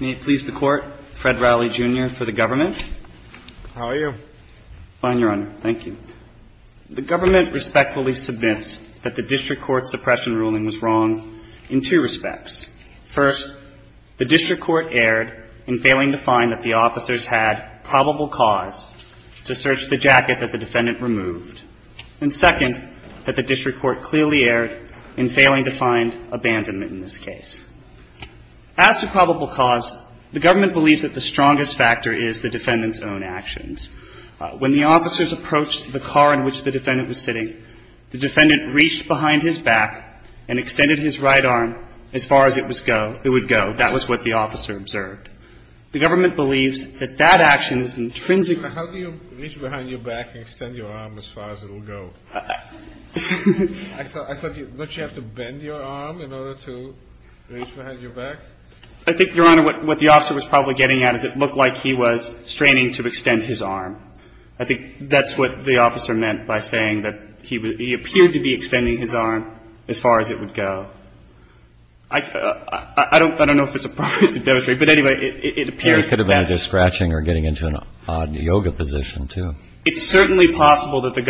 May it please the Court, Fred Rowley, Jr. for the Government. How are you? Fine, Your Honor. Thank you. The Government respectfully submits that the District Court's suppression ruling was wrong in two respects. First, the District Court erred in failing to find that the officers had probable cause to search the jacket that the defendant removed. And second, that the District Court clearly erred in failing to find abandonment in this case. As to probable cause, the Government believes that the strongest factor is the defendant's own actions. When the officers approached the car in which the defendant was sitting, the defendant reached behind his back and extended his right arm as far as it would go. That was what the officer observed. The Government believes that that action is intrinsically How do you reach behind your back and extend your arm as far as it will go? I thought you had to bend your arm in order to reach behind your back? I think, Your Honor, what the officer was probably getting at is it looked like he was straining to extend his arm. I think that's what the officer meant by saying that he appeared to be extending his arm as far as it would go. I don't know if it's appropriate to demonstrate, but anyway, it appears that He could have been just scratching or getting into an odd yoga position, too. It's certainly possible that the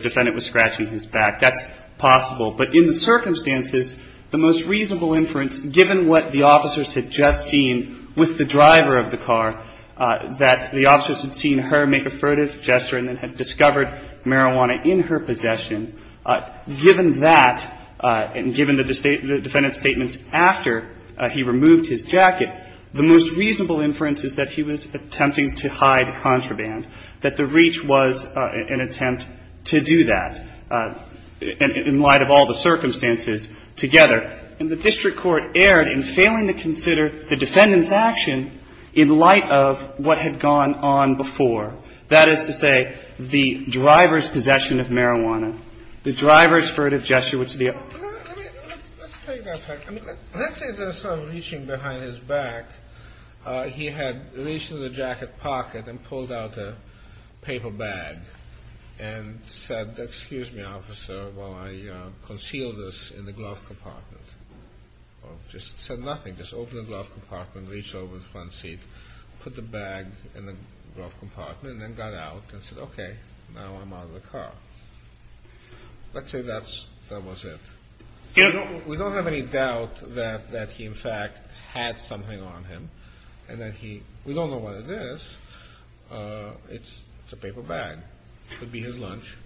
defendant was scratching his back. That's possible. But in the circumstances, the most reasonable inference, given what the officers had just seen with the driver of the car, that the officers had seen her make a furtive gesture and then had discovered marijuana in her possession, given that and given the defendant's statements after he removed his jacket, the most reasonable inference is that he was attempting to hide contraband, that the reach was an attempt to do that in light of all the circumstances together. And the district court erred in failing to consider the defendant's action in light of what had gone on before. That is to say, the driver's possession of marijuana, the driver's furtive gesture, which would be a Let's take that fact. I mean, let's say there's some reaching behind his back. He had reached into the jacket pocket and pulled out a paper bag and said, Excuse me, officer, while I conceal this in the glove compartment. Or just said nothing, just opened the glove compartment, reached over the front seat, put the bag in the glove compartment and then got out and said, OK, now I'm out of the car. Let's say that was it. We don't have any doubt that he in fact had something on him and that he We don't know what it is. It's a paper bag. Could be his lunch.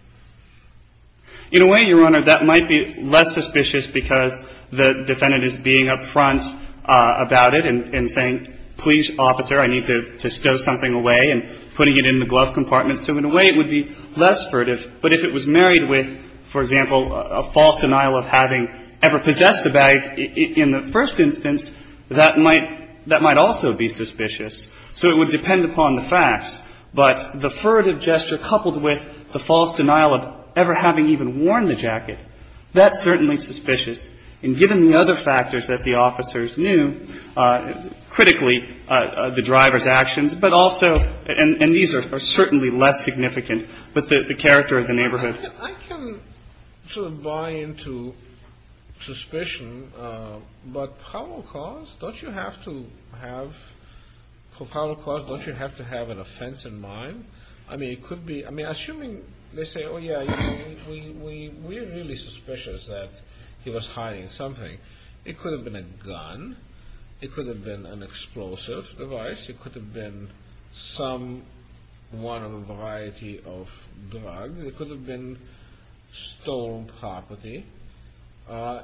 In a way, Your Honor, that might be less suspicious because the defendant is being up front about it and saying, Please, officer, I need to stow something away and putting it in the glove compartment. So in a way, it would be less furtive. But if it was married with, for example, a false denial of having ever possessed the bag in the first instance, that might also be suspicious. So it would depend upon the facts. But the furtive gesture coupled with the false denial of ever having even worn the jacket, that's certainly suspicious. And given the other factors that the officers knew, critically, the driver's actions, but also, and these are certainly less significant, but the character of the neighborhood. I can sort of buy into suspicion, but power calls, don't you have to have, for power calls, don't you have to have an offense in mind? I mean, it could be, I mean, assuming they say, oh, yeah, we're really suspicious that he was hiding something. It could have been a gun. It could have been an explosive device. It could have been some one of a variety of drugs. It could have been stolen property.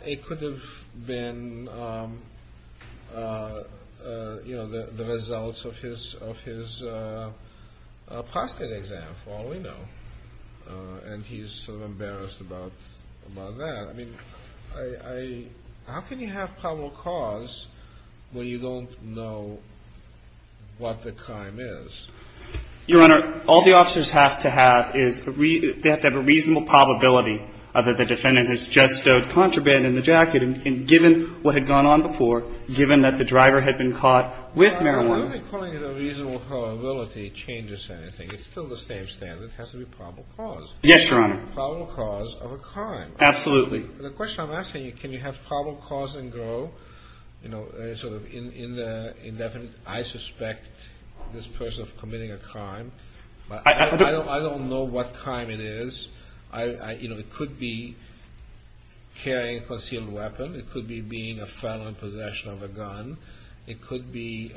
It could have been, you know, the results of his prostate exam, for all we know. And he's sort of embarrassed about that. I mean, I, how can you have probable cause when you don't know what the crime is? Your Honor, all the officers have to have is they have to have a reasonable probability that the defendant has just stowed contraband in the jacket. And given what had gone on before, given that the driver had been caught with marijuana. Your Honor, why are they calling it a reasonable probability? It changes anything. It's still the same standard. It has to be probable cause. Yes, Your Honor. Probable cause of a crime. Absolutely. The question I'm asking you, can you have probable cause and go, you know, sort of in the indefinite I suspect this person of committing a crime. I don't know what crime it is. You know, it could be carrying a concealed weapon. It could be being a felon in possession of a gun. It could be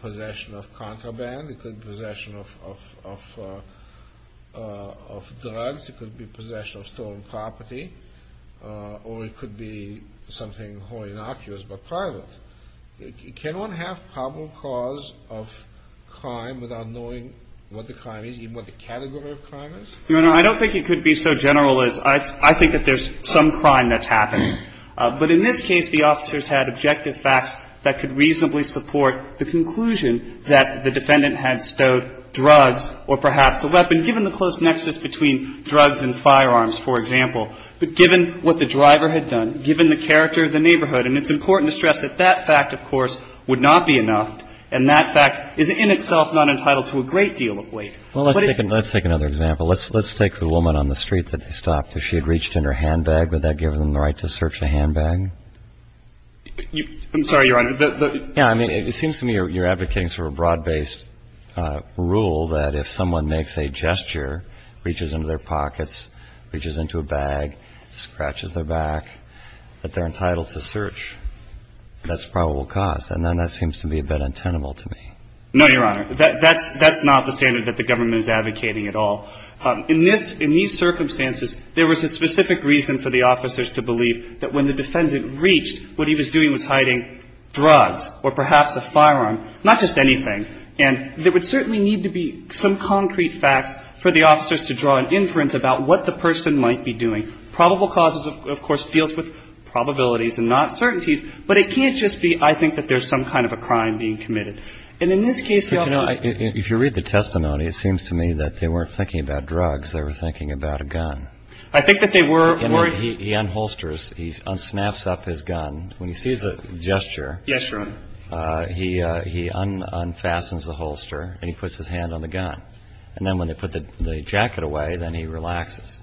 possession of contraband. It could be possession of drugs. It could be possession of stolen property. Or it could be something wholly innocuous but private. Can one have probable cause of crime without knowing what the crime is, even what the category of crime is? Your Honor, I don't think it could be so general as I think that there's some crime that's happening. But in this case, the officers had objective facts that could reasonably support the conclusion that the defendant had stowed drugs or perhaps a weapon. And given the close nexus between drugs and firearms, for example, but given what the driver had done, given the character of the neighborhood, and it's important to stress that that fact, of course, would not be enough, and that fact is in itself not entitled to a great deal of weight. Well, let's take another example. Let's take the woman on the street that they stopped. If she had reached in her handbag, would that give them the right to search the handbag? I'm sorry, Your Honor. Yeah. I mean, it seems to me you're advocating sort of a broad-based rule that if someone makes a gesture, reaches into their pockets, reaches into a bag, scratches their back, that they're entitled to search. That's probable cause. And then that seems to be a bit untenable to me. No, Your Honor. That's not the standard that the government is advocating at all. In these circumstances, there was a specific reason for the officers to believe that when the defendant reached, what he was doing was hiding drugs or perhaps a firearm, not just anything. And there would certainly need to be some concrete facts for the officers to draw an inference about what the person might be doing. Probable causes, of course, deals with probabilities and not certainties, but it can't just be, I think, that there's some kind of a crime being committed. And in this case, the officers ---- But, you know, if you read the testimony, it seems to me that they weren't thinking about drugs. They were thinking about a gun. I think that they were worried ---- So he unholsters, he snaps up his gun. When he sees a gesture, he unfastens the holster and he puts his hand on the gun. And then when they put the jacket away, then he relaxes.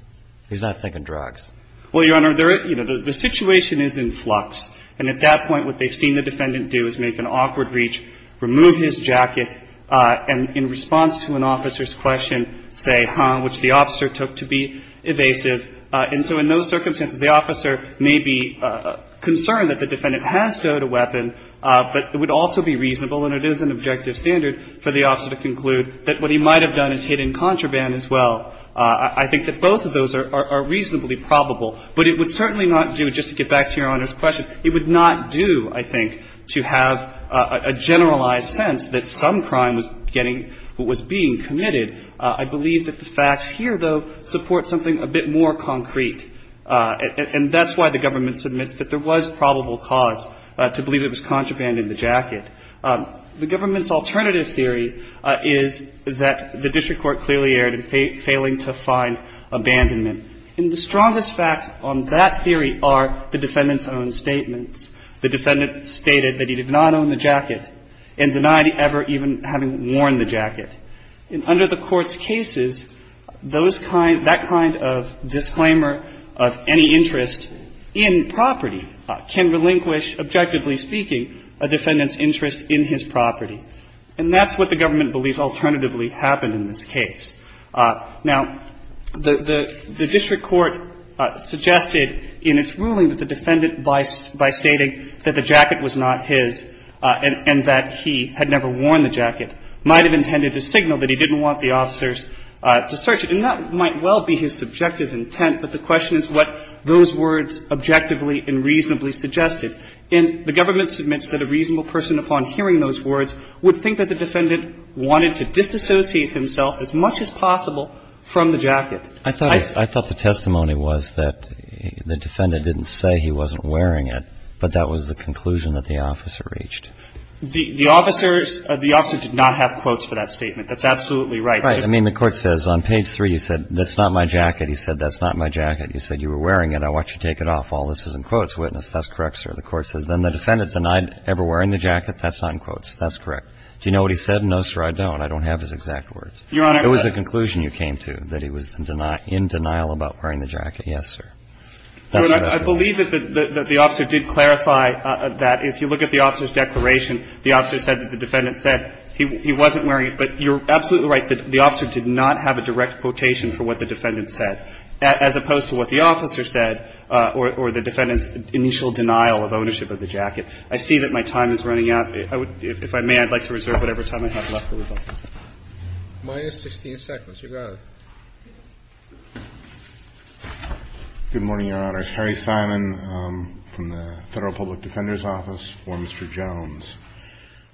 He's not thinking drugs. Well, Your Honor, the situation is in flux. And at that point, what they've seen the defendant do is make an awkward reach, remove his jacket, and in response to an officer's question, say, huh, which the officer took to be evasive. And so in those circumstances, the officer may be concerned that the defendant has stowed a weapon, but it would also be reasonable, and it is an objective standard, for the officer to conclude that what he might have done is hidden contraband as well. I think that both of those are reasonably probable. But it would certainly not do, just to get back to Your Honor's question, it would not do, I think, to have a generalized sense that some crime was getting or was being committed. I believe that the facts here, though, support something a bit more concrete. And that's why the government submits that there was probable cause to believe it was contraband in the jacket. The government's alternative theory is that the district court clearly erred in failing to find abandonment. And the strongest facts on that theory are the defendant's own statements. The defendant stated that he did not own the jacket and denied ever even having worn the jacket. And under the Court's cases, those kind of – that kind of disclaimer of any interest in property can relinquish, objectively speaking, a defendant's interest in his property. And that's what the government believes alternatively happened in this case. Now, the district court suggested in its ruling that the defendant, by stating that the jacket was not his and that he had never worn the jacket, might have intended to signal that he didn't want the officers to search it. And that might well be his subjective intent, but the question is what those words objectively and reasonably suggested. And the government submits that a reasonable person, upon hearing those words, would think that the defendant wanted to disassociate himself as much as possible from the jacket. I thought the testimony was that the defendant didn't say he wasn't wearing it, but that was the conclusion that the officer reached. The officers – the officer did not have quotes for that statement. That's absolutely right. Right. I mean, the Court says on page 3, he said, that's not my jacket. He said, that's not my jacket. He said, you were wearing it. I want you to take it off. All this is in quotes. Witness, that's correct, sir. The Court says, then the defendant denied ever wearing the jacket. That's not in quotes. That's correct. Do you know what he said? No, sir, I don't. I don't have his exact words. Your Honor. It was a conclusion you came to, that he was in denial about wearing the jacket. Yes, sir. I believe that the officer did clarify that if you look at the officer's declaration the officer said that the defendant said he wasn't wearing it. But you're absolutely right. The officer did not have a direct quotation for what the defendant said, as opposed to what the officer said or the defendant's initial denial of ownership of the jacket. I see that my time is running out. If I may, I'd like to reserve whatever time I have left for rebuttal. Your Honor. Good morning, Your Honor. I'm Terry Simon from the Federal Public Defender's Office for Mr. Jones.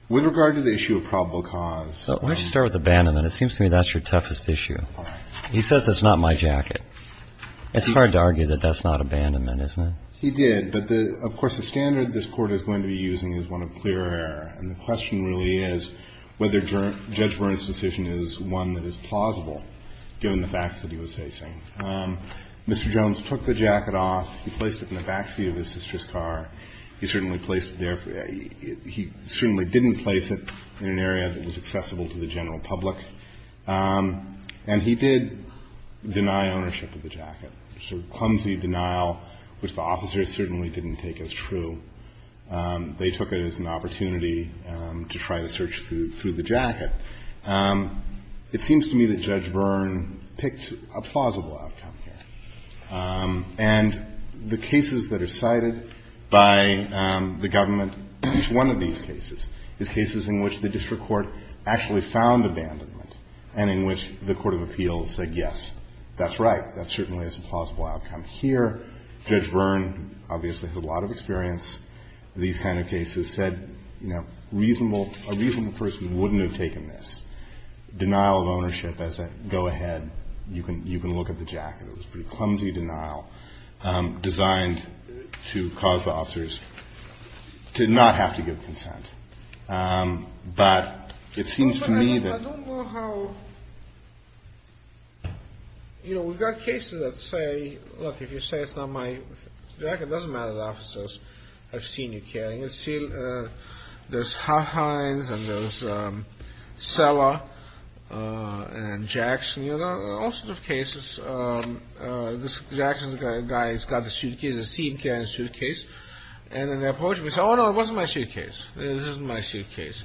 With regard to the issue of probable cause. Why don't you start with abandonment? It seems to me that's your toughest issue. All right. He says that's not my jacket. It's hard to argue that that's not abandonment, isn't it? He did. But, of course, the standard this Court is going to be using is one of clear error. And the question really is whether Judge Vernon's decision is one that is plausible, given the facts that he was facing. Mr. Jones took the jacket off. He placed it in the back seat of his sister's car. He certainly placed it there. He certainly didn't place it in an area that was accessible to the general public. And he did deny ownership of the jacket. A sort of clumsy denial, which the officers certainly didn't take as true. They took it as an opportunity to try to search through the jacket. It seems to me that Judge Vern picked a plausible outcome here. And the cases that are cited by the government, each one of these cases, is cases in which the district court actually found abandonment and in which the court of appeals said, yes, that's right, that certainly is a plausible outcome here. Judge Vern obviously has a lot of experience in these kind of cases, said, you know, a reasonable person wouldn't have taken this. Denial of ownership as a go-ahead, you can look at the jacket. It was a pretty clumsy denial designed to cause the officers to not have to give consent. But it seems to me that... But I don't know how... You know, we've got cases that say, look, if you say it's not my jacket, it doesn't matter that officers have seen you carrying it. There's Hines and there's Sella and Jackson, you know, all sorts of cases. This Jackson guy has got the suitcase, has seen him carrying the suitcase. And then they approach him and say, oh, no, it wasn't my suitcase. This isn't my suitcase.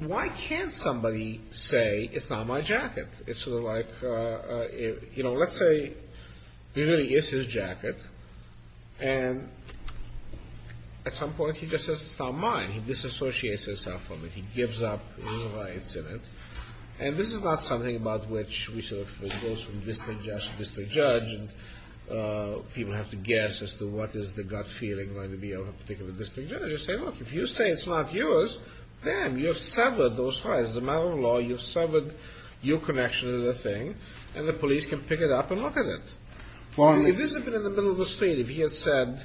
Why can't somebody say it's not my jacket? It's sort of like, you know, let's say it really is his jacket. And at some point he just says it's not mine. He disassociates himself from it. He gives up his rights in it. And this is not something about which we sort of... It goes from district judge to district judge. And people have to guess as to what is the gut feeling going to be of a particular district judge. They say, look, if you say it's not yours, damn, you've severed those ties. As a matter of law, you've severed your connection to the thing. And the police can pick it up and look at it. If this had been in the middle of the street, if he had said,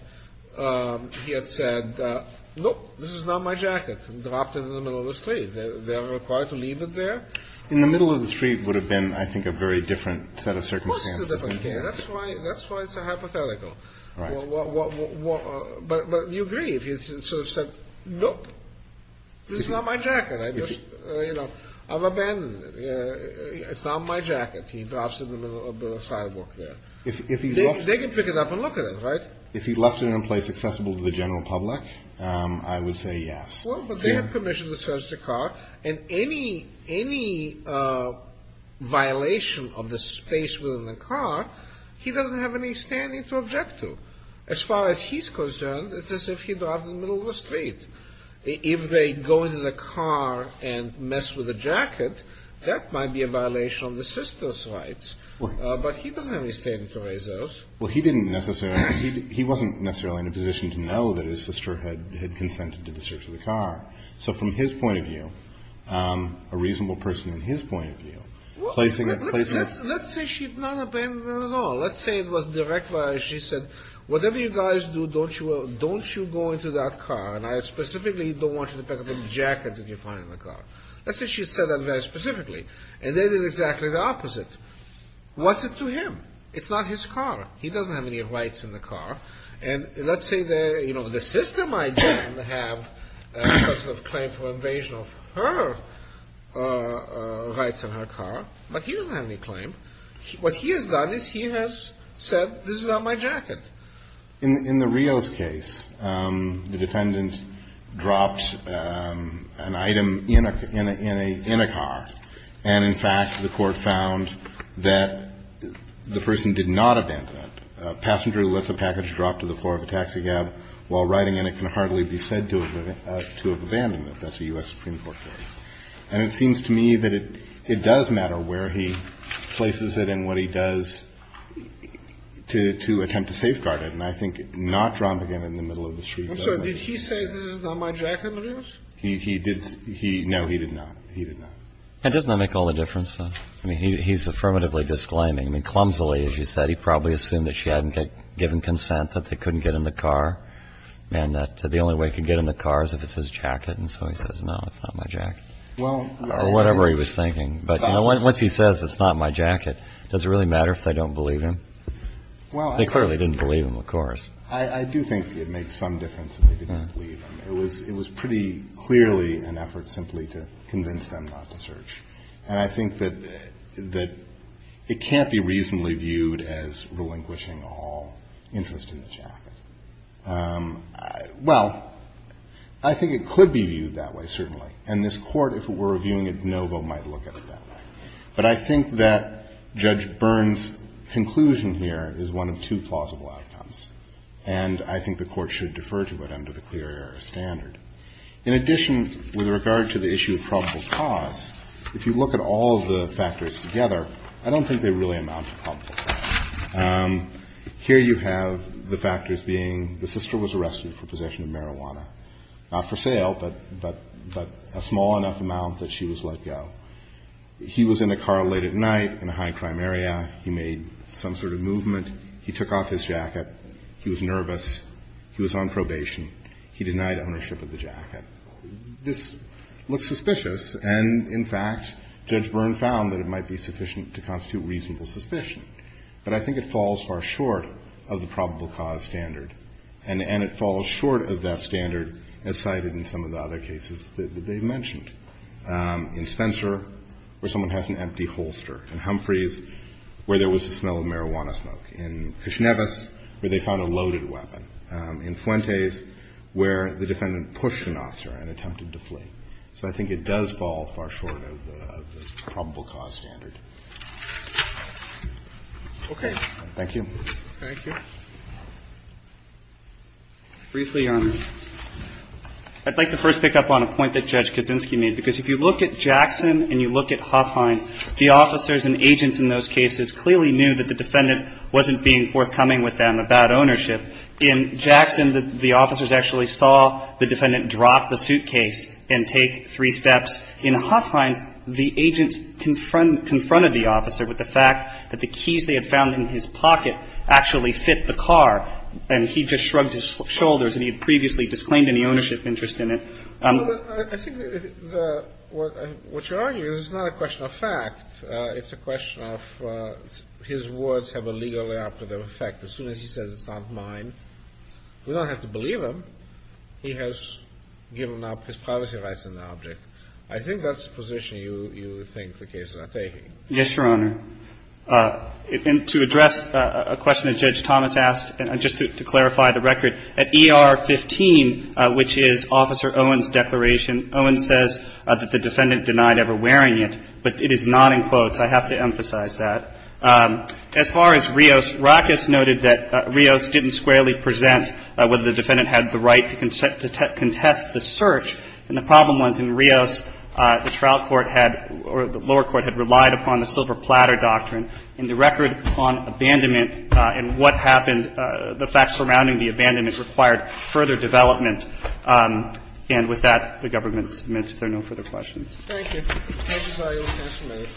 nope, this is not my jacket, and dropped it in the middle of the street, they are required to leave it there? In the middle of the street would have been, I think, a very different set of circumstances. Of course it's a different case. That's why it's a hypothetical. But you agree, if he sort of said, nope, this is not my jacket. I've abandoned it. It's not my jacket. He drops it in the middle of the sidewalk there. They can pick it up and look at it, right? If he left it in a place accessible to the general public, I would say yes. Well, but they have permission to search the car. And any violation of the space within the car, he doesn't have any standing to object to. As far as he's concerned, it's as if he dropped it in the middle of the street. If they go into the car and mess with the jacket, that might be a violation of the sister's rights. But he doesn't have any standing to raise those. Well, he didn't necessarily. He wasn't necessarily in a position to know that his sister had consented to the search of the car. So from his point of view, a reasonable person in his point of view, placing it. Let's say she had not abandoned it at all. Let's say it was direct violation. She said, whatever you guys do, don't you go into that car. And I specifically don't want you to pick up the jacket that you find in the car. Let's say she said that very specifically. And they did exactly the opposite. What's it to him? It's not his car. He doesn't have any rights in the car. And let's say the, you know, the sister might then have some sort of claim for invasion of her rights in her car. But he doesn't have any claim. What he has done is he has said, this is not my jacket. In the Rios case, the defendant dropped an item in a car. And, in fact, the court found that the person did not abandon it. A passenger lifts a package dropped to the floor of a taxi cab while riding in it can hardly be said to have abandoned it. That's a U.S. Supreme Court case. And it seems to me that it does matter where he places it and what he does to attempt to safeguard it. And I think not dropping it in the middle of the street. I'm sorry. Did he say this is not my jacket in the Rios? He did. No, he did not. He did not. And doesn't that make all the difference? I mean, he's affirmatively disclaiming. I mean, clumsily, as you said, he probably assumed that she hadn't given consent, that they couldn't get in the car, and that the only way he could get in the car is if it's his jacket. And so he says, no, it's not my jacket, or whatever he was thinking. But, you know, once he says it's not my jacket, does it really matter if they don't believe him? They clearly didn't believe him, of course. I do think it made some difference that they didn't believe him. It was pretty clearly an effort simply to convince them not to search. And I think that it can't be reasonably viewed as relinquishing all interest in the jacket. Well, I think it could be viewed that way, certainly. And this Court, if it were reviewing it, no one might look at it that way. But I think that Judge Byrne's conclusion here is one of two plausible outcomes. And I think the Court should defer to it under the clear error standard. In addition, with regard to the issue of probable cause, if you look at all of the factors together, I don't think they really amount to probable cause. Here you have the factors being the sister was arrested for possession of marijuana. Not for sale, but a small enough amount that she was let go. He was in a car late at night in a high-crime area. He made some sort of movement. He took off his jacket. He was nervous. He was on probation. He denied ownership of the jacket. This looks suspicious. And, in fact, Judge Byrne found that it might be sufficient to constitute reasonable suspicion. But I think it falls far short of the probable cause standard. And it falls short of that standard as cited in some of the other cases that they've mentioned. In Spencer, where someone has an empty holster. In Humphreys, where there was the smell of marijuana smoke. In Kishnevis, where they found a loaded weapon. In Fuentes, where the defendant pushed an officer and attempted to flee. So I think it does fall far short of the probable cause standard. Okay. Thank you. Thank you. Briefly, Your Honor, I'd like to first pick up on a point that Judge Kaczynski made. Because if you look at Jackson and you look at Huffines, the officers and agents in those cases clearly knew that the defendant wasn't being forthcoming with them about ownership. In Jackson, the officers actually saw the defendant drop the suitcase and take three steps. In Huffines, the agents confronted the officer with the fact that the keys they had found in his pocket actually fit the car, and he just shrugged his shoulders and he had previously disclaimed any ownership interest in it. I think the – what you're arguing is it's not a question of fact. It's a question of his words have a legal and operative effect. As soon as he says it's not mine, we don't have to believe him. He has given up his privacy rights in the object. I think that's the position you think the cases are taking. Yes, Your Honor. And to address a question that Judge Thomas asked, and just to clarify the record, at ER 15, which is Officer Owens' declaration, Owens says that the defendant denied ever wearing it, but it is not in quotes. I have to emphasize that. As far as Rios, Rackus noted that Rios didn't squarely present whether the defendant had the right to contest the search, and the problem was in Rios, the trial court had – or the lower court had relied upon the silver platter doctrine, and the record on abandonment and what happened, the facts surrounding the abandonment, required further development. And with that, the government submits if there are no further questions. Thank you. Thank you, Mr. Rios.